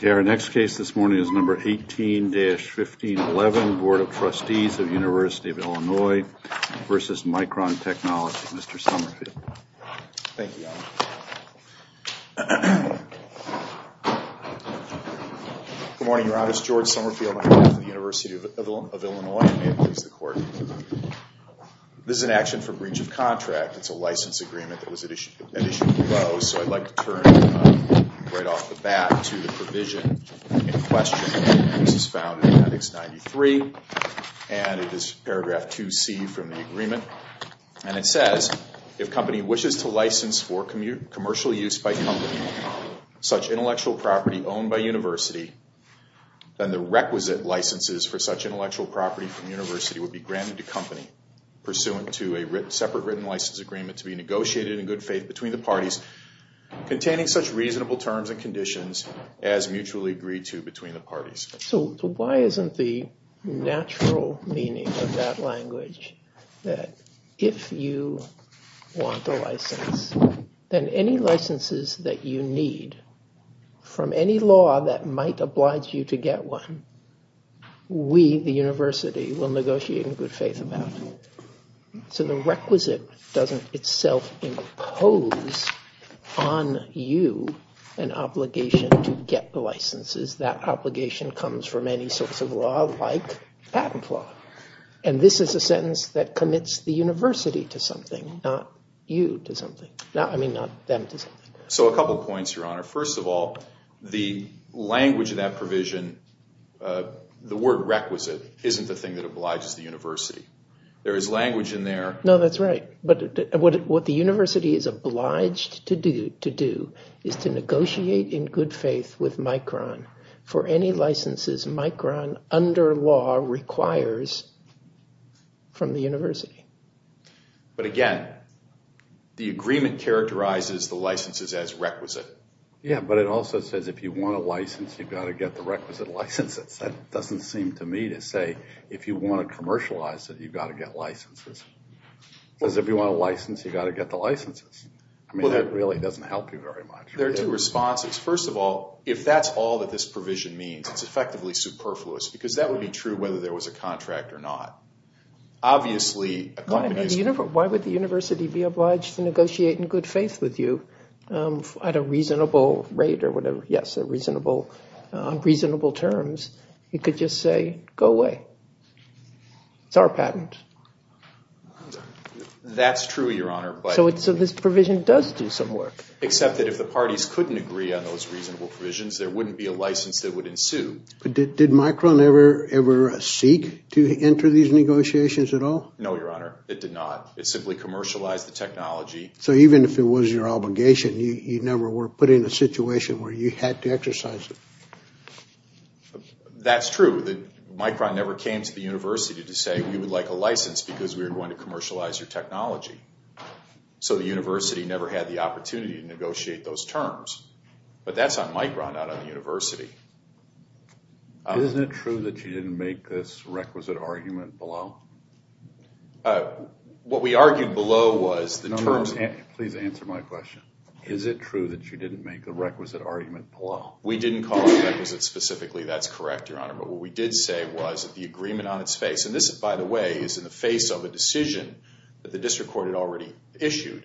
The next case is 18-1511, Bt. of Trustees of University of Illinois v. Micron Technology, Mr. Somerville. Thank you, Your Honor. Good morning, Your Honor. It's George Somerville, on behalf of the University of Illinois, and may it please the Court. This is an action for breach of contract. It's a license agreement that was at issue in Lowe's, so I'd like to turn right off the bat to the provision in question. This is found in Attics 93, and it is paragraph 2C from the agreement, and it says, if company wishes to license for commercial use by company such intellectual property owned by university, then the requisite licenses for such intellectual property from university would be granted to company pursuant to a separate written license agreement to be negotiated in good faith between the parties containing such reasonable terms and conditions as mutually agreed to between the parties. So why isn't the natural meaning of that language that if you want a license, then any licenses that you need from any law that might oblige you to get one, we, the university, will negotiate in good faith about. So the requisite doesn't itself impose on you an obligation to get the licenses. That obligation comes from any source of law like patent law, and this is a sentence that commits the university to something, not you to something. I mean, not them to something. So a couple points, Your Honor. First of all, the language of that provision, the word requisite, isn't the thing that obliges the university. There is language in there. No, that's right, but what the university is obliged to do is to negotiate in good faith with Micron for any licenses Micron, under law, requires from the university. But again, the agreement characterizes the licenses as requisite. Yeah, but it also says if you want a license, you've got to get the requisite licenses. That doesn't seem to me to say if you want to commercialize it, you've got to get licenses. Because if you want a license, you've got to get the licenses. I mean, that really doesn't help you very much. There are two responses. First of all, if that's all that this provision means, it's effectively superfluous, because that would be true whether there was a contract or not. Obviously, a company is- Why would the university be obliged to negotiate in good faith with you at a reasonable rate or whatever? Yes, at reasonable terms, you could just say, go away. It's our patent. That's true, Your Honor, but- So this provision does do some work. Except that if the parties couldn't agree on those reasonable provisions, there wouldn't be a license that would ensue. But did Micron ever seek to enter these negotiations at all? No, Your Honor, it did not. It simply commercialized the technology. So even if it was your obligation, you never were put in a situation where you had to exercise it? That's true. Micron never came to the university to say we would like a license because we were going to commercialize your technology. So the university never had the opportunity to negotiate those terms. But that's on Micron, not on the university. Isn't it true that you didn't make this requisite argument below? What we argued below was the terms- Please answer my question. Is it true that you didn't make the requisite argument below? We didn't call it requisite specifically. That's correct, Your Honor. But what we did say was that the agreement on its face, and this, by the way, is in the face of a decision that the district court had already issued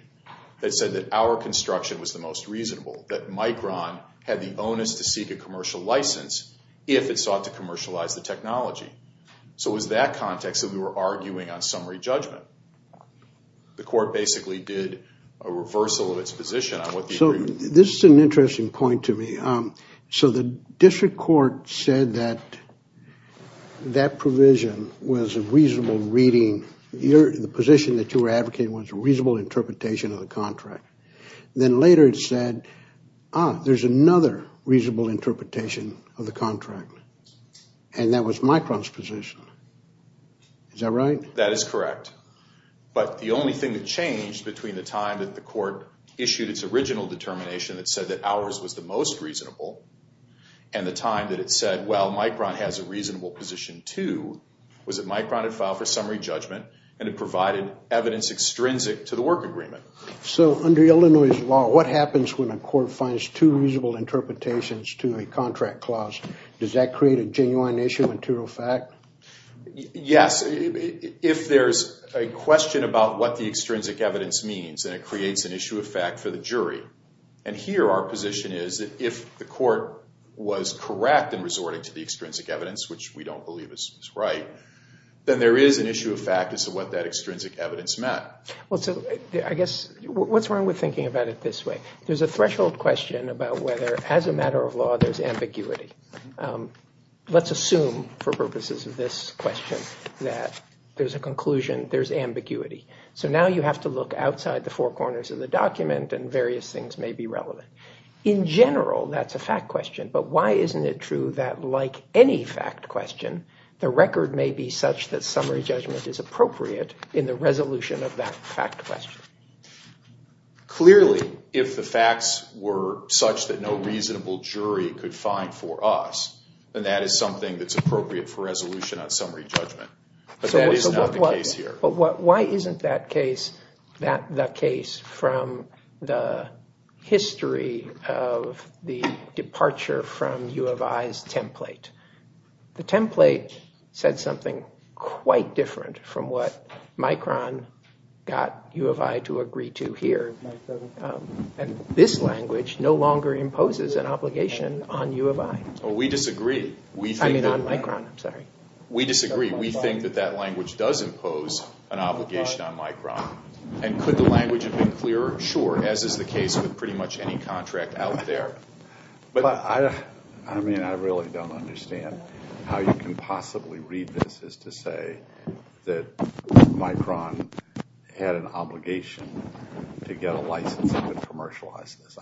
that said that our construction was the most reasonable, that Micron had the onus to seek a commercial license if it sought to commercialize the technology. So it was that context that we were arguing on summary judgment. The court basically did a reversal of its position on what the agreement- So this is an interesting point to me. So the district court said that that provision was a reasonable reading. The position that you were advocating was a reasonable interpretation of the contract. Then later it said, ah, there's another reasonable interpretation of the contract. And that was Micron's position. Is that right? That is correct. But the only thing that changed between the time that the court issued its original determination that said that ours was the most reasonable, and the time that it said, well, Micron has a reasonable position too, was that Micron had filed for summary judgment and had provided evidence extrinsic to the work agreement. So under Illinois' law, what happens when a court finds two reasonable interpretations to a contract clause? Does that create a genuine issue material fact? Yes. If there's a question about what the extrinsic evidence means, then it creates an issue of fact for the jury. And here our position is that if the court was correct in resorting to the extrinsic evidence, which we don't believe is right, then there is an issue of fact as to what that extrinsic evidence meant. Well, so I guess, what's wrong with thinking about it this way? There's a threshold question about whether, as a matter of law, there's ambiguity. Let's assume, for purposes of this question, that there's a conclusion, there's ambiguity. So now you have to look outside the four corners of the document and various things may be relevant. In general, that's a fact question. But why isn't it true that, like any fact question, the record may be such that summary judgment is appropriate in the resolution of that fact question? Clearly, if the facts were such that no reasonable jury could find for us, then that is something that's appropriate for resolution on summary judgment. But that is not the case here. Why isn't that case the case from the history of the departure from U of I's template? The template said something quite different from what Micron got U of I to agree to here. And this language no longer imposes an obligation on U of I. We disagree. I mean, on Micron, I'm sorry. We disagree. We think that that language does impose an obligation on Micron. And could the language have been clearer? Sure, as is the case with pretty much any contract out there. But I mean, I really don't understand how you can possibly read this as to say that Micron had an obligation to get a license to commercialize this.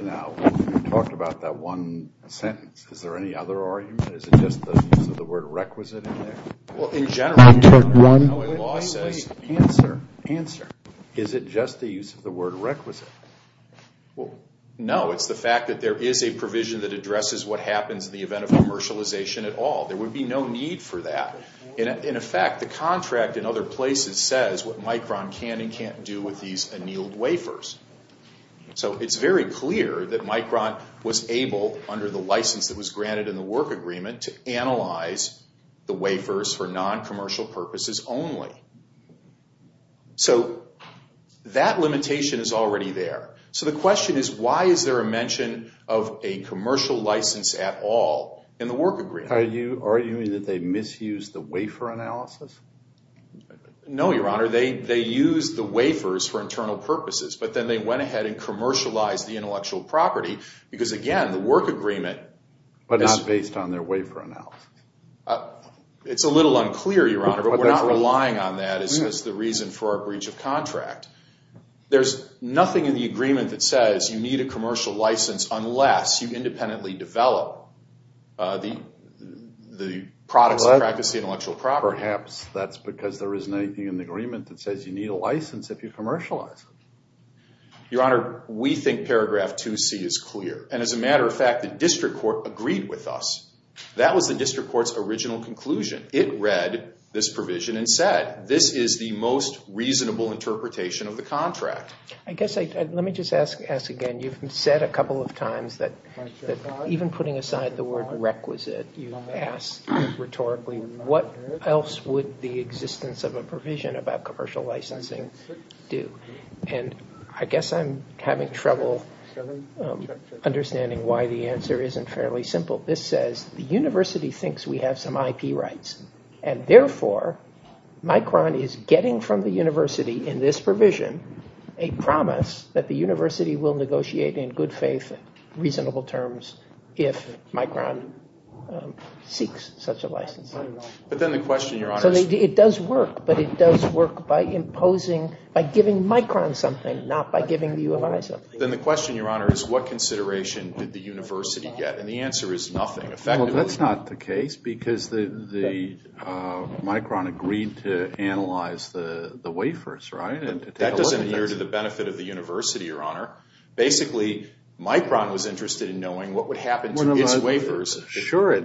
Now, you talked about that one sentence. Is there any other argument? Is it just the use of the word requisite in there? Well, in general, you know, a law says answer, answer. Is it just the use of the word requisite? Well, no. It's the fact that there is a provision that addresses what happens in the event of commercialization at all. There would be no need for that. And in effect, the contract in other places says what Micron can and can't do with these annealed wafers. So it's very clear that Micron was able, under the license that was granted in the work agreement, to analyze the wafers for non-commercial purposes only. So that limitation is already there. So the question is, why is there a mention of a commercial license at all in the work agreement? Are you arguing that they misused the wafer analysis? No, Your Honor. They used the wafers for internal purposes. But then they went ahead and commercialized the intellectual property. Because again, the work agreement is- But not based on their wafer analysis. It's a little unclear, Your Honor. But we're not relying on that as the reason for our breach of contract. There's nothing in the agreement that says you need a commercial license unless you independently develop the products that practice the intellectual property. Perhaps that's because there isn't anything in the agreement that says you need a license if you commercialize it. Your Honor, we think paragraph 2C is clear. And as a matter of fact, the district court agreed with us. That was the district court's original conclusion. It read this provision and said, this is the most reasonable interpretation of the contract. I guess, let me just ask again. You've said a couple of times that even putting aside the word requisite, you've asked rhetorically, what else would the existence of a provision about commercial licensing do? And I guess I'm having trouble understanding why the answer isn't fairly simple. This says the university thinks we have some IP rights. And therefore, Micron is getting from the university in this provision a promise that the university will negotiate in good faith, reasonable terms if Micron seeks such a licensing. But then the question, Your Honor- So it does work. But it does work by imposing, by giving Micron something, not by giving the U of I something. Then the question, Your Honor, is what consideration did the university get? And the answer is nothing, effectively. That's not the case because the Micron agreed to analyze the wafers, right? And that doesn't adhere to the benefit of the university, Your Honor. Basically, Micron was interested in knowing what would happen to its wafers. Sure, it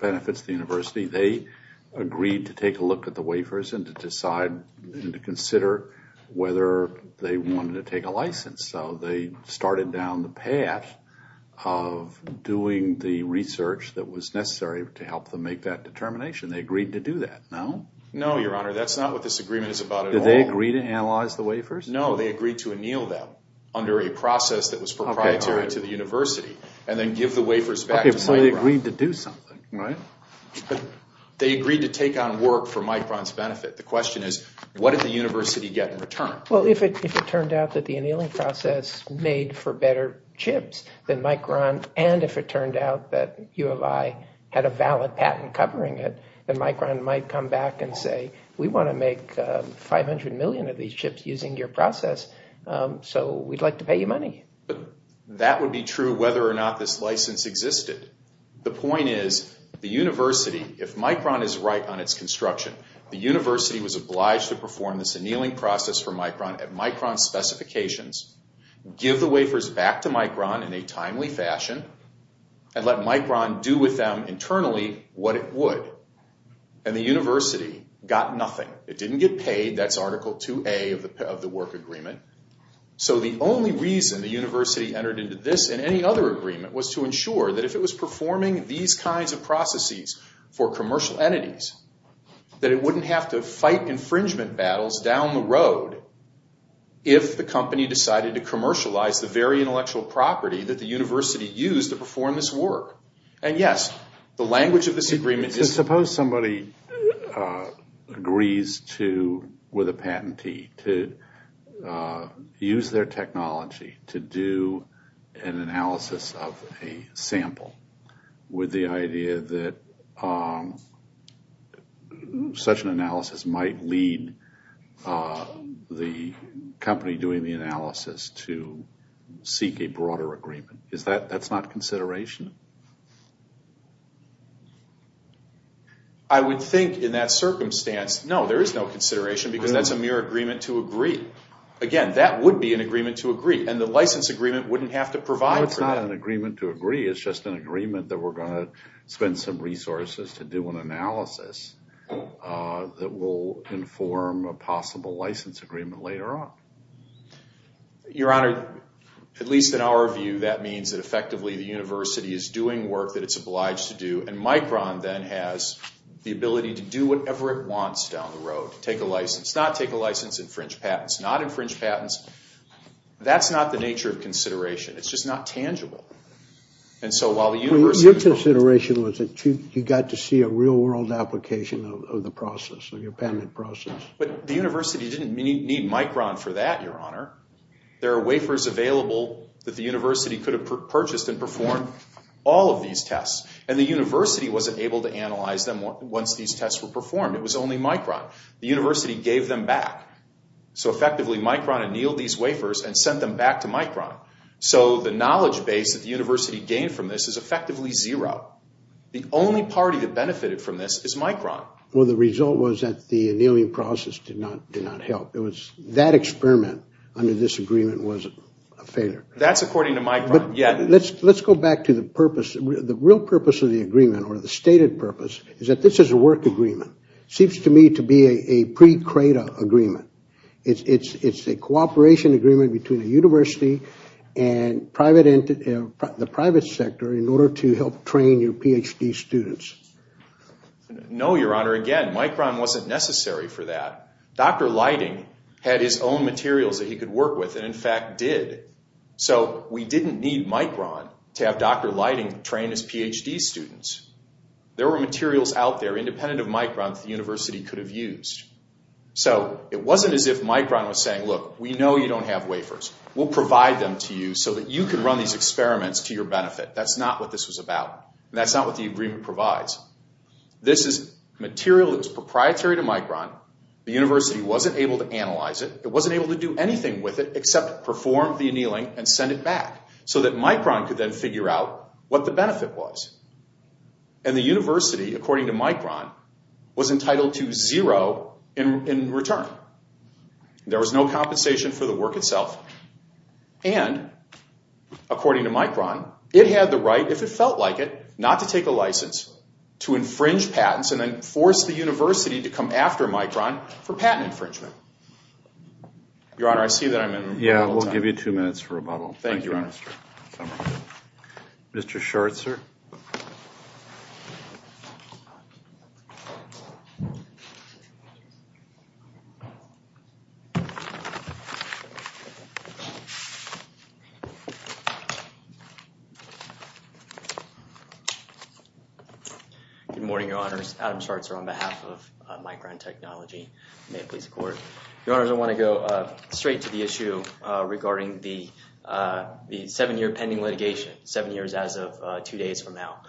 benefits the university. They agreed to take a look at the wafers and to decide and to consider whether they wanted to take a license. So they started down the path of doing the research that was necessary to help them make that determination. They agreed to do that, no? No, Your Honor. That's not what this agreement is about at all. Did they agree to analyze the wafers? No, they agreed to anneal them under a process that was proprietary to the university and then give the wafers back to Micron. Okay, so they agreed to do something, right? But they agreed to take on work for Micron's benefit. The question is, what did the university get in return? Well, if it turned out that the annealing process made for better chips than Micron and if it turned out that U of I had a valid patent covering it, then Micron might come back and say, we want to make 500 million of these chips using your process, so we'd like to pay you money. That would be true whether or not this license existed. The point is, the university, if Micron is right on its construction, the university was obliged to perform this annealing process for Micron at Micron's specifications, give the wafers back to Micron in a timely fashion, and let Micron do with them internally what it would. And the university got nothing. It didn't get paid. That's Article 2A of the work agreement. So the only reason the university entered into this and any other agreement was to ensure that if it was performing these kinds of processes for commercial entities, that it wouldn't have to fight infringement battles down the road if the company decided to commercialize the very intellectual property that the university used to perform this work. And yes, the language of this agreement is... Suppose somebody agrees to, with a patentee, to use their technology to do an analysis of a sample with the idea that such an analysis might lead the company doing the analysis to seek a broader agreement. That's not consideration? I would think in that circumstance, no, there is no consideration because that's a mere agreement to agree. Again, that would be an agreement to agree, and the license agreement wouldn't have to provide for that. No, it's not an agreement to agree. It's just an agreement that we're going to spend some resources to do an analysis that will inform a possible license agreement later on. Your Honor, at least in our view, that means that effectively the university is doing work that it's obliged to do, and Micron then has the ability to do whatever it wants down the road, take a license, not take a license, infringe patents, not infringe patents. That's not the nature of consideration. It's just not tangible. And so while the university... Your consideration was that you got to see a real-world application of the process, of your payment process. But the university didn't need Micron for that, Your Honor. There are wafers available that the university could have purchased and performed all of these tests, and the university wasn't able to analyze them once these tests were performed. It was only Micron. The university gave them back. So effectively, Micron annealed these wafers and sent them back to Micron. So the knowledge base that the university gained from this is effectively zero. The only party that benefited from this is Micron. Well, the result was that the annealing process did not help. It was that experiment under this agreement was a failure. That's according to Micron, yeah. Let's go back to the purpose. The real purpose of the agreement, or the stated purpose, is that this is a work agreement. Seems to me to be a pre-CREDA agreement. It's a cooperation agreement between the university and the private sector in order to help train your PhD students. No, Your Honor. Again, Micron wasn't necessary for that. Dr. Lighting had his own materials that he could work with, and in fact did. So we didn't need Micron to have Dr. Lighting train his PhD students. There were materials out there independent of Micron that the university could have used. So it wasn't as if Micron was saying, look, we know you don't have wafers. We'll provide them to you so that you can run these experiments to your benefit. That's not what this was about. That's not what the agreement provides. This is material that's proprietary to Micron. The university wasn't able to analyze it. It wasn't able to do anything with it except perform the annealing and send it back so that Micron could then figure out what the benefit was. And the university, according to Micron, was entitled to zero in return. There was no compensation for the work itself. And according to Micron, it had the right, if it felt like it, not to take a license to infringe patents and then force the university to come after Micron for patent infringement. Your Honor, I see that I'm in a little time. Yeah, we'll give you two minutes for rebuttal. Thank you, Your Honor. Mr. Schertzer. Good morning, Your Honors. Adam Schertzer on behalf of Micron Technology. May it please the Court. Your Honors, I want to go straight to the issue regarding the seven-year pending litigation, seven years as of two days from now.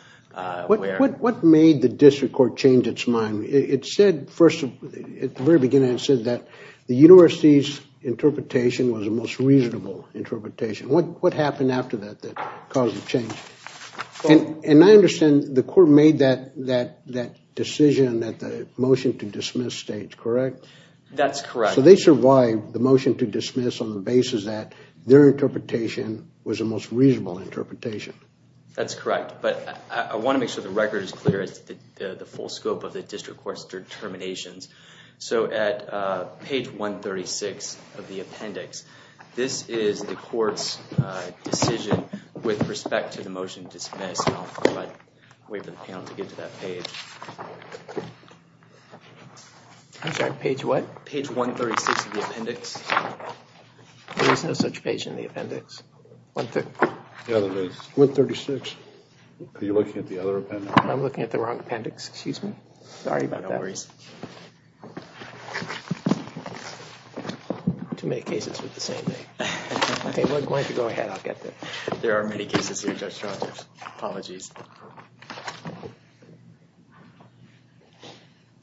What made the district court change its mind? At the very beginning, it said that the university's interpretation was the most reasonable interpretation. What happened after that that caused the change? And I understand the court made that decision at the motion to dismiss stage, correct? That's correct. So they survived the motion to dismiss on the basis that their interpretation was the most reasonable interpretation. That's correct. But I want to make sure the record is clear as to the full scope of the district court's determinations. So at page 136 of the appendix, this is the court's decision with respect to the motion dismissed. I'll wait for the panel to get to that page. I'm sorry, page what? Page 136 of the appendix. There is no such page in the appendix. Yeah, there is. 136. Are you looking at the other appendix? I'm looking at the wrong appendix. Excuse me. Sorry about that. No worries. Too many cases with the same thing. OK, why don't you go ahead. I'll get there. There are many cases here, Judge Rogers. Apologies.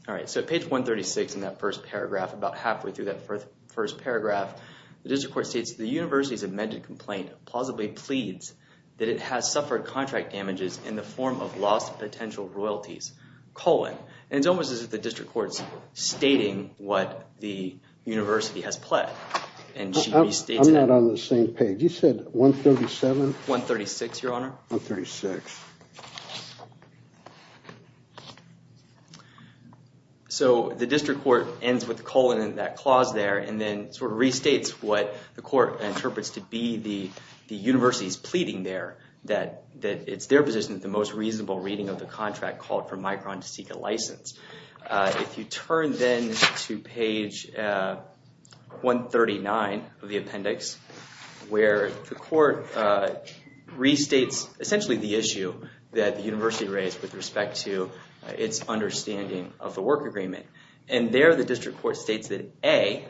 All right, so page 136 in that first paragraph, about halfway through that first paragraph, the district court states, the university's amended complaint plausibly pleads that it has suffered contract damages in the form of lost potential royalties, colon. And it's almost as if the district court's stating what the university has pled. And she restates that. I'm not on the same page. You said 137? 136, Your Honor. 136. So the district court ends with a colon in that clause there, and then sort of restates what the court interprets to be the university's pleading there, that it's their position that the most reasonable reading of the contract called for Micron to seek a license. If you turn then to page 139 of the appendix, where the court restates essentially the issue that the university raised with respect to its understanding of the work agreement. And there, the district court states that A,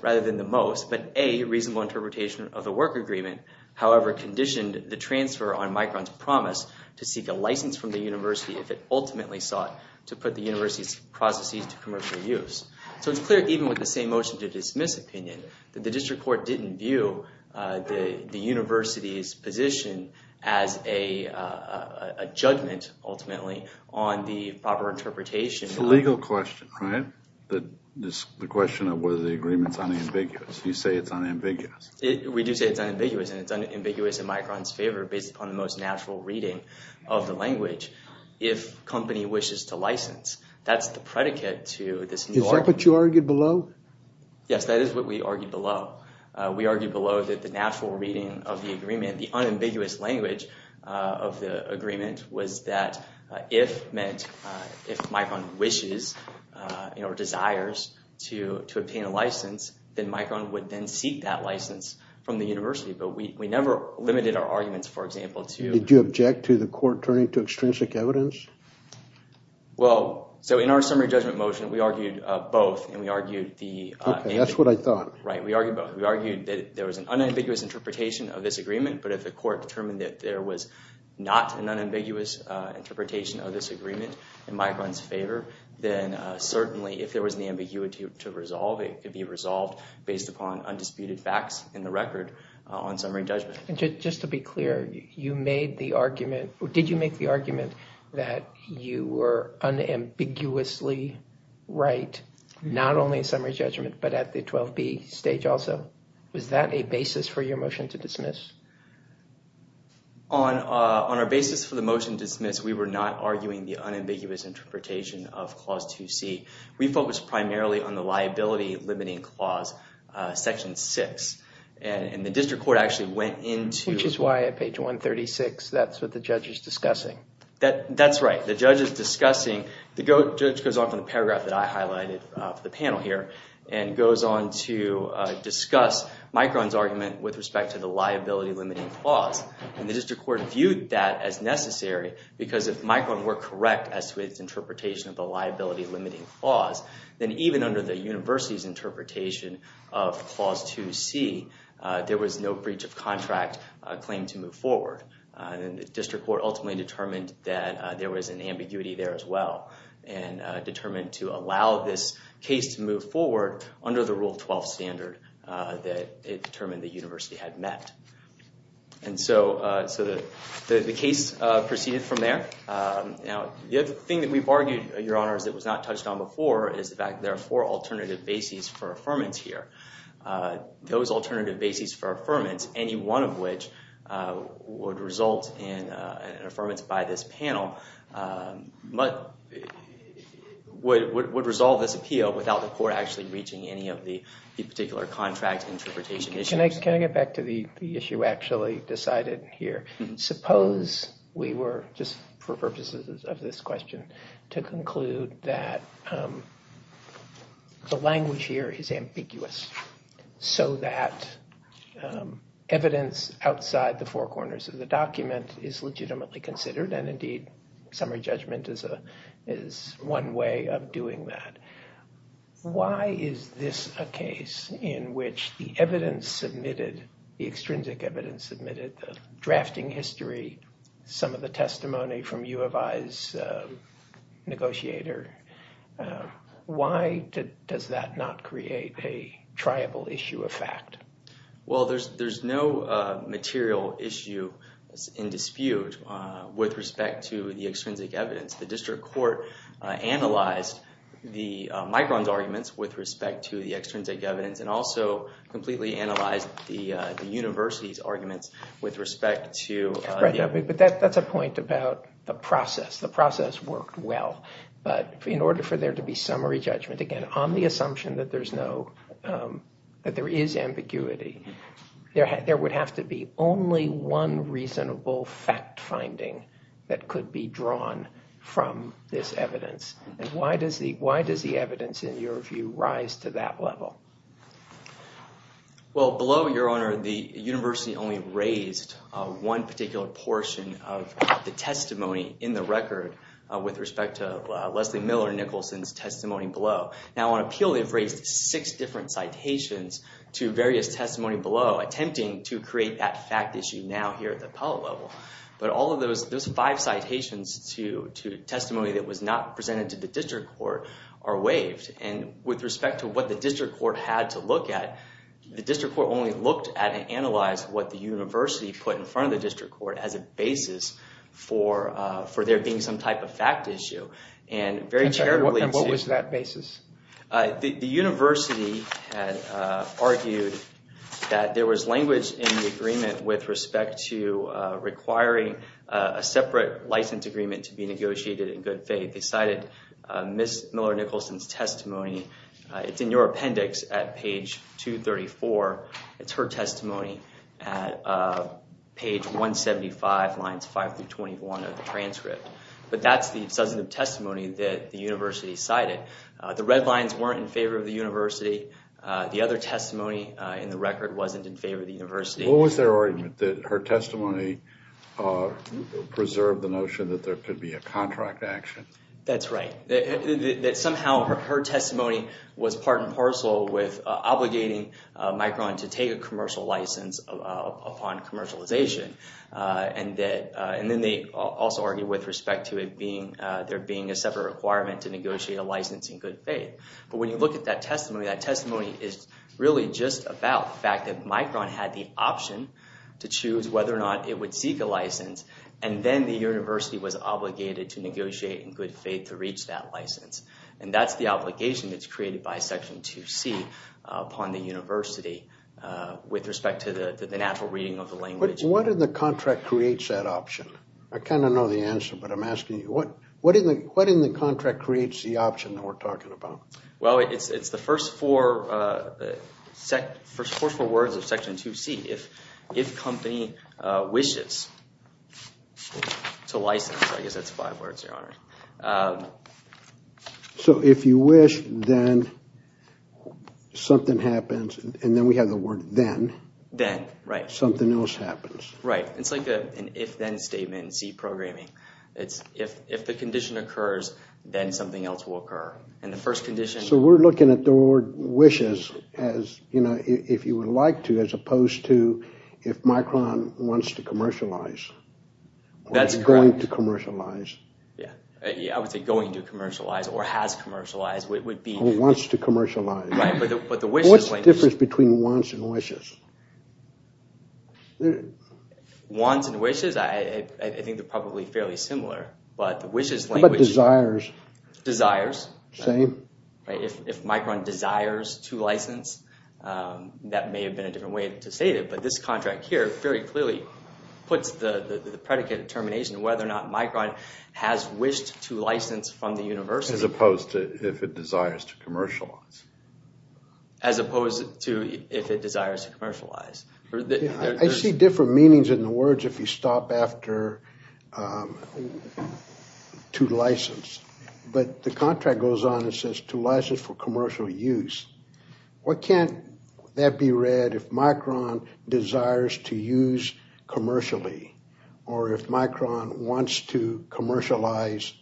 rather than the most, but A, reasonable interpretation of the work agreement, however, conditioned the transfer on Micron's promise to seek a license from the university if it ultimately sought to put the university's processes to commercial use. So it's clear, even with the same motion to dismiss opinion, that the district court didn't view the university's position as a judgment, ultimately, on the proper interpretation. It's a legal question, right? The question of whether the agreement's unambiguous. You say it's unambiguous. We do say it's unambiguous, and it's unambiguous in Micron's favor based upon the most natural reading of the language, if company wishes to license. That's the predicate to this new argument. Is that what you argued below? Yes, that is what we argued below. We argued below that the natural reading of the agreement, the unambiguous language of the agreement, was that if Micron wishes or desires to obtain a license, then Micron would then seek that license from the university. But we never limited our arguments, for example, to- Did you object to the court turning to extrinsic evidence? Well, so in our summary judgment motion, we argued both, and we argued the- Okay, that's what I thought. Right, we argued both. We argued that there was an unambiguous interpretation of this agreement, but if the court determined that there was not an unambiguous interpretation of this agreement in Micron's favor, then certainly if there was an ambiguity to resolve, it could be resolved based upon undisputed facts in the record on summary judgment. Just to be clear, you made the argument- Did you make the argument that you were unambiguously right, not only in summary judgment, but at the 12B stage also? Was that a basis for your motion to dismiss? On our basis for the motion to dismiss, we were not arguing the unambiguous interpretation of Clause 2C. We focused primarily on the liability-limiting clause, Section 6, and the district court actually went into- Which is why at page 136, that's what the judge is discussing. That's right. The judge is discussing- the judge goes on from the paragraph that I highlighted for the panel here, and goes on to discuss Micron's argument with respect to the liability-limiting clause, and the district court viewed that as necessary because if Micron were correct as to its interpretation of the liability-limiting clause, then even under the university's interpretation of Clause 2C, there was no breach of contract claim to move forward. And the district court ultimately determined that there was an ambiguity there as well, and determined to allow this case to move forward under the Rule 12 standard that it determined the university had met. And so the case proceeded from there. Now, the other thing that we've argued, Your Honors, that was not touched on before is the fact that there are four alternative bases for affirmance here. Those alternative bases for affirmance, any one of which would result in an affirmance by this panel, would resolve this appeal without the court actually reaching any of the particular contract interpretation issues. Can I get back to the issue actually decided here? Suppose we were, just for purposes of this question, to conclude that the language here is ambiguous, so that evidence outside the four corners of the document is legitimately considered, and indeed, summary judgment is one way of doing that. Why is this a case in which the evidence submitted, the extrinsic evidence submitted, the drafting history, some of the testimony from U of I's negotiator, why does that not create a triable issue of fact? Well, there's no material issue in dispute with respect to the extrinsic evidence. The district court analyzed the migrant's arguments with respect to the extrinsic evidence and also completely analyzed the university's arguments with respect to- But that's a point about the process. The process worked well, but in order for there to be summary judgment, again, on the assumption that there is ambiguity, there would have to be only one reasonable fact finding that could be drawn from this evidence. And why does the evidence, in your view, rise to that level? Well, below, Your Honor, the university only raised one particular portion of the testimony in the record with respect to Leslie Miller Nicholson's testimony below. Now, on appeal, they've raised six different citations to various testimony below, attempting to create that fact issue now here at the appellate level. But all of those five citations to testimony that was not presented to the district court are waived. And with respect to what the district court had to look at, the district court only looked at and analyzed what the university put in front of the district court as a basis for there being some type of fact issue. And very charitably- And what was that basis? The university had argued that there was language in the agreement with respect to requiring a separate license agreement to be negotiated in good faith. They cited Ms. Miller Nicholson's testimony. It's in your appendix at page 234. It's her testimony at page 175, lines 5 through 21 of the transcript. But that's the substantive testimony that the university cited. The red lines weren't in favor of the university. What was their argument? That her testimony preserved the notion that there could be a contract action? That's right. That somehow her testimony was part and parcel with obligating Micron to take a commercial license upon commercialization. And then they also argued with respect to there being a separate requirement to negotiate a license in good faith. But when you look at that testimony, that testimony is really just about the fact that to choose whether or not it would seek a license. And then the university was obligated to negotiate in good faith to reach that license. And that's the obligation that's created by Section 2C upon the university with respect to the natural reading of the language. What in the contract creates that option? I kind of know the answer, but I'm asking you, what in the contract creates the option that we're talking about? Well, it's the first four words of Section 2C, if company wishes to license. I guess that's five words, Your Honor. So if you wish, then something happens. And then we have the word then. Then, right. Something else happens. Right. It's like an if-then statement in C programming. It's if the condition occurs, then something else will occur. And the first condition... So we're looking at the word wishes as, you know, if you would like to, as opposed to if Micron wants to commercialize. That's correct. Going to commercialize. Yeah. I would say going to commercialize or has commercialized would be... Wants to commercialize. Right. But the wishes language... What's the difference between wants and wishes? Wants and wishes, I think they're probably fairly similar. But the wishes language... But desires. Desires. Same. Right. If Micron desires to license, that may have been a different way to say it. But this contract here very clearly puts the predicate determination whether or not Micron has wished to license from the university. As opposed to if it desires to commercialize. As opposed to if it desires to commercialize. I see different meanings in the words if you stop after to license. But the contract goes on and says to license for commercial use. What can't that be read if Micron desires to use commercially? Or if Micron wants to commercialize.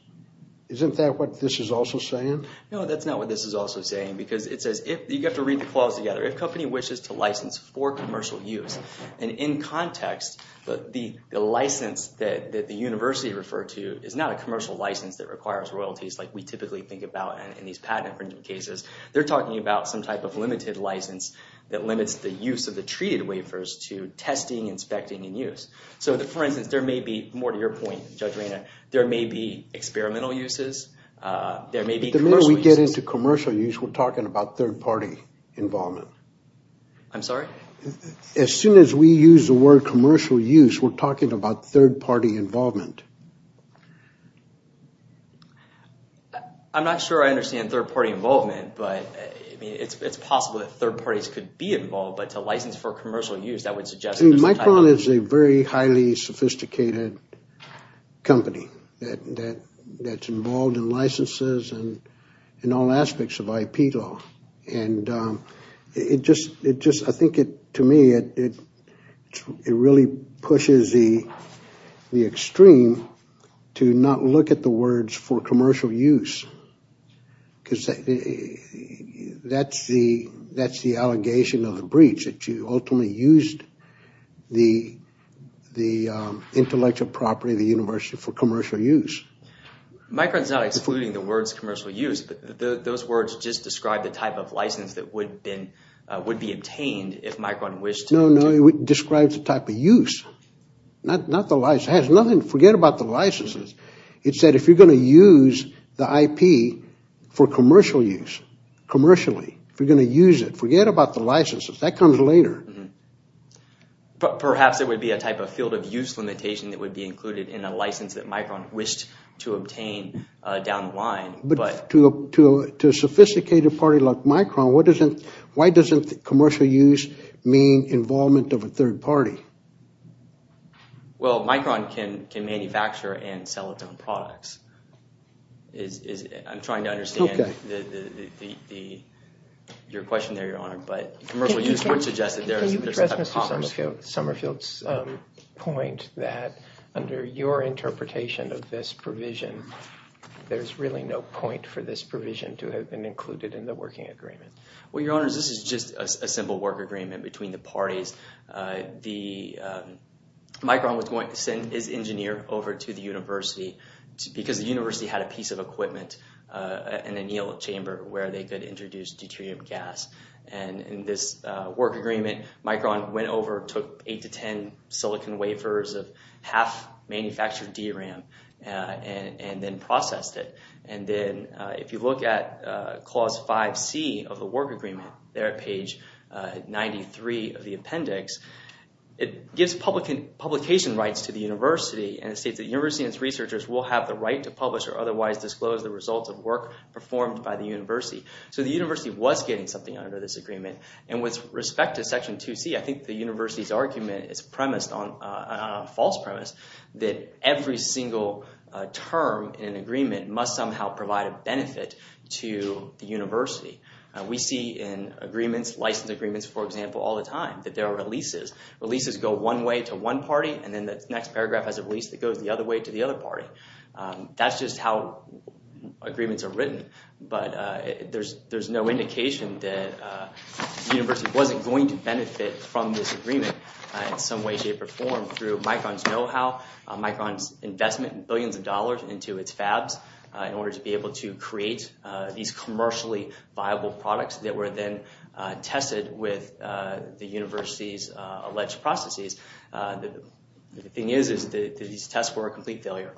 Isn't that what this is also saying? No, that's not what this is also saying. Because it says if... You have to read the clause together. If company wishes to license for commercial use. And in context, the license that the university referred to is not a commercial license that requires royalties like we typically think about in these patent infringement cases. They're talking about some type of limited license that limits the use of the treated wafers to testing, inspecting, and use. So for instance, there may be... More to your point, Judge Reyna. There may be experimental uses. There may be commercial uses. The minute we get into commercial use, we're talking about third-party involvement. I'm sorry? As soon as we use the word commercial use, we're talking about third-party involvement. I'm not sure I understand third-party involvement. But I mean, it's possible that third parties could be involved. But to license for commercial use, that would suggest... Micron is a very highly sophisticated company that's involved in licenses and in all aspects of IP law. And it just... Look at the words for commercial use. Because that's the allegation of the breach, that you ultimately used the intellectual property of the university for commercial use. Micron's not excluding the words commercial use. But those words just describe the type of license that would be obtained if Micron wished to... No, no. It describes the type of use, not the license. It has nothing... It said if you're going to use the IP for commercial use, commercially, if you're going to use it, forget about the licenses. That comes later. Perhaps it would be a type of field of use limitation that would be included in a license that Micron wished to obtain down the line. But to a sophisticated party like Micron, why doesn't commercial use mean involvement of a third party? Well, Micron can manufacture and sell its own products. I'm trying to understand your question there, Your Honor. But commercial use would suggest that there's a type of commerce. Can you address Mr. Summerfield's point that under your interpretation of this provision, there's really no point for this provision to have been included in the working agreement? Well, Your Honor, this is just a simple work agreement between the parties. The... Micron was going to send his engineer over to the university because the university had a piece of equipment, an annealed chamber where they could introduce deuterium gas. And in this work agreement, Micron went over, took eight to 10 silicon wafers of half manufactured DRAM, and then processed it. And then if you look at clause 5C of the work agreement, there at page 93 of the appendix, it gives publication rights to the university and it states that the university and its researchers will have the right to publish or otherwise disclose the results of work performed by the university. So the university was getting something under this agreement. And with respect to section 2C, I think the university's argument is premised on a false premise that every single term in an agreement must somehow provide a benefit to the university. We see in agreements, license agreements, for example, all the time that there are releases. Releases go one way to one party, and then the next paragraph has a release that goes the other way to the other party. That's just how agreements are written. But there's no indication that the university wasn't going to benefit from this agreement in some way, shape, or form through Micron's know-how, Micron's investment in billions of dollars into its fabs in order to be able to create these commercially viable products that were then tested with the university's alleged processes. The thing is that these tests were a complete failure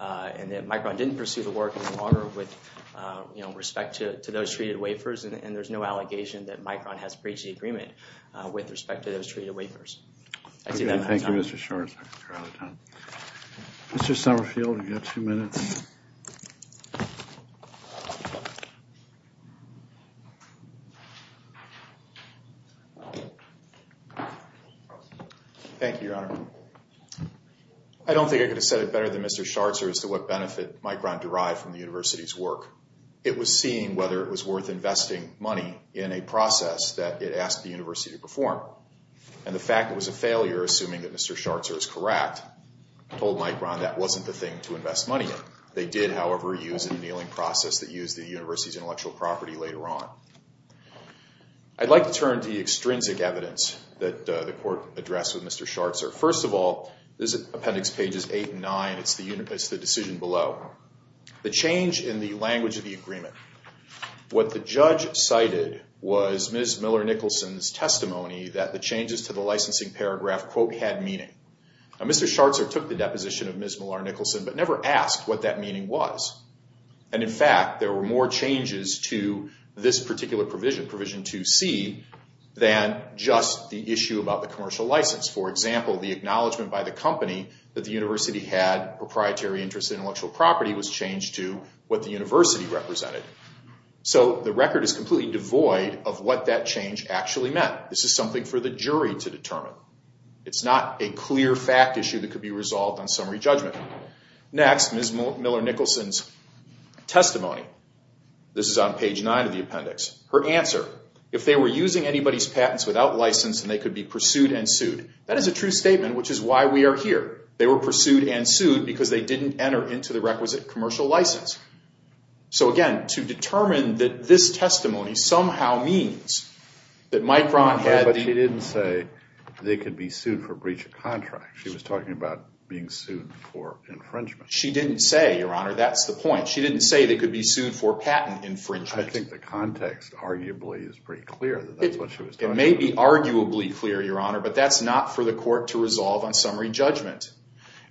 and that Micron didn't pursue the work any longer with respect to those treated wafers. And there's no allegation that Micron has breached the agreement with respect to those treated wafers. I see that. Thank you, Mr. Schwartz. We're out of time. Mr. Summerfield, you have two minutes. Thank you, Your Honor. I don't think I could have said it better than Mr. Schartzer as to what benefit Micron derived from the university's work. It was seeing whether it was worth investing money in a process that it asked the university to perform. And the fact it was a failure, assuming that Mr. Schartzer is correct, told Micron that wasn't the thing to invest money in. They did, however, use an annealing process that used the university's intellectual property later on. I'd like to turn to the extrinsic evidence that the Court addressed with Mr. Schartzer. First of all, this is Appendix Pages 8 and 9. It's the decision below. The change in the language of the agreement. What the judge cited was Ms. Miller-Nicholson's testimony that the changes to the licensing paragraph, quote, had meaning. Mr. Schartzer took the deposition of Ms. Miller-Nicholson but never asked what that meaning was. And in fact, there were more changes to this particular provision, Provision 2C, than just the issue about the commercial license. For example, the acknowledgement by the company that the university had proprietary interest in intellectual property was changed to what the university represented. So the record is completely devoid of what that change actually meant. This is something for the jury to determine. It's not a clear fact issue that could be resolved on summary judgment. Next, Ms. Miller-Nicholson's testimony. This is on Page 9 of the appendix. Her answer. If they were using anybody's patents without license and they could be pursued and sued. That is a true statement, which is why we are here. They were pursued and sued because they didn't enter into the requisite commercial license. So again, to determine that this testimony somehow means that Mike Braun had... But she didn't say they could be sued for breach of contract. She was talking about being sued for infringement. She didn't say, Your Honor. That's the point. She didn't say they could be sued for patent infringement. I think the context arguably is pretty clear that that's what she was talking about. It may be arguably clear, Your Honor, but that's not for the court to resolve on summary judgment.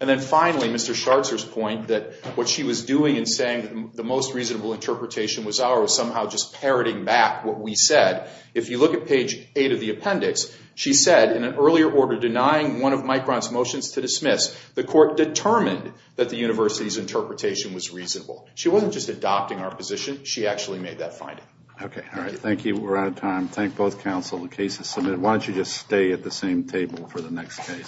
And then finally, Mr. Scharzer's point that what she was doing in saying the most reasonable interpretation was ours, somehow just parroting back what we said. If you look at Page 8 of the appendix, she said in an earlier order, denying one of Mike Braun's motions to dismiss, the court determined that the university's interpretation was reasonable. She wasn't just adopting our position. She actually made that finding. Okay. All right. Thank you. We're out of time. Thank both counsel. The case is submitted. Why don't you just stay at the same table for the next case?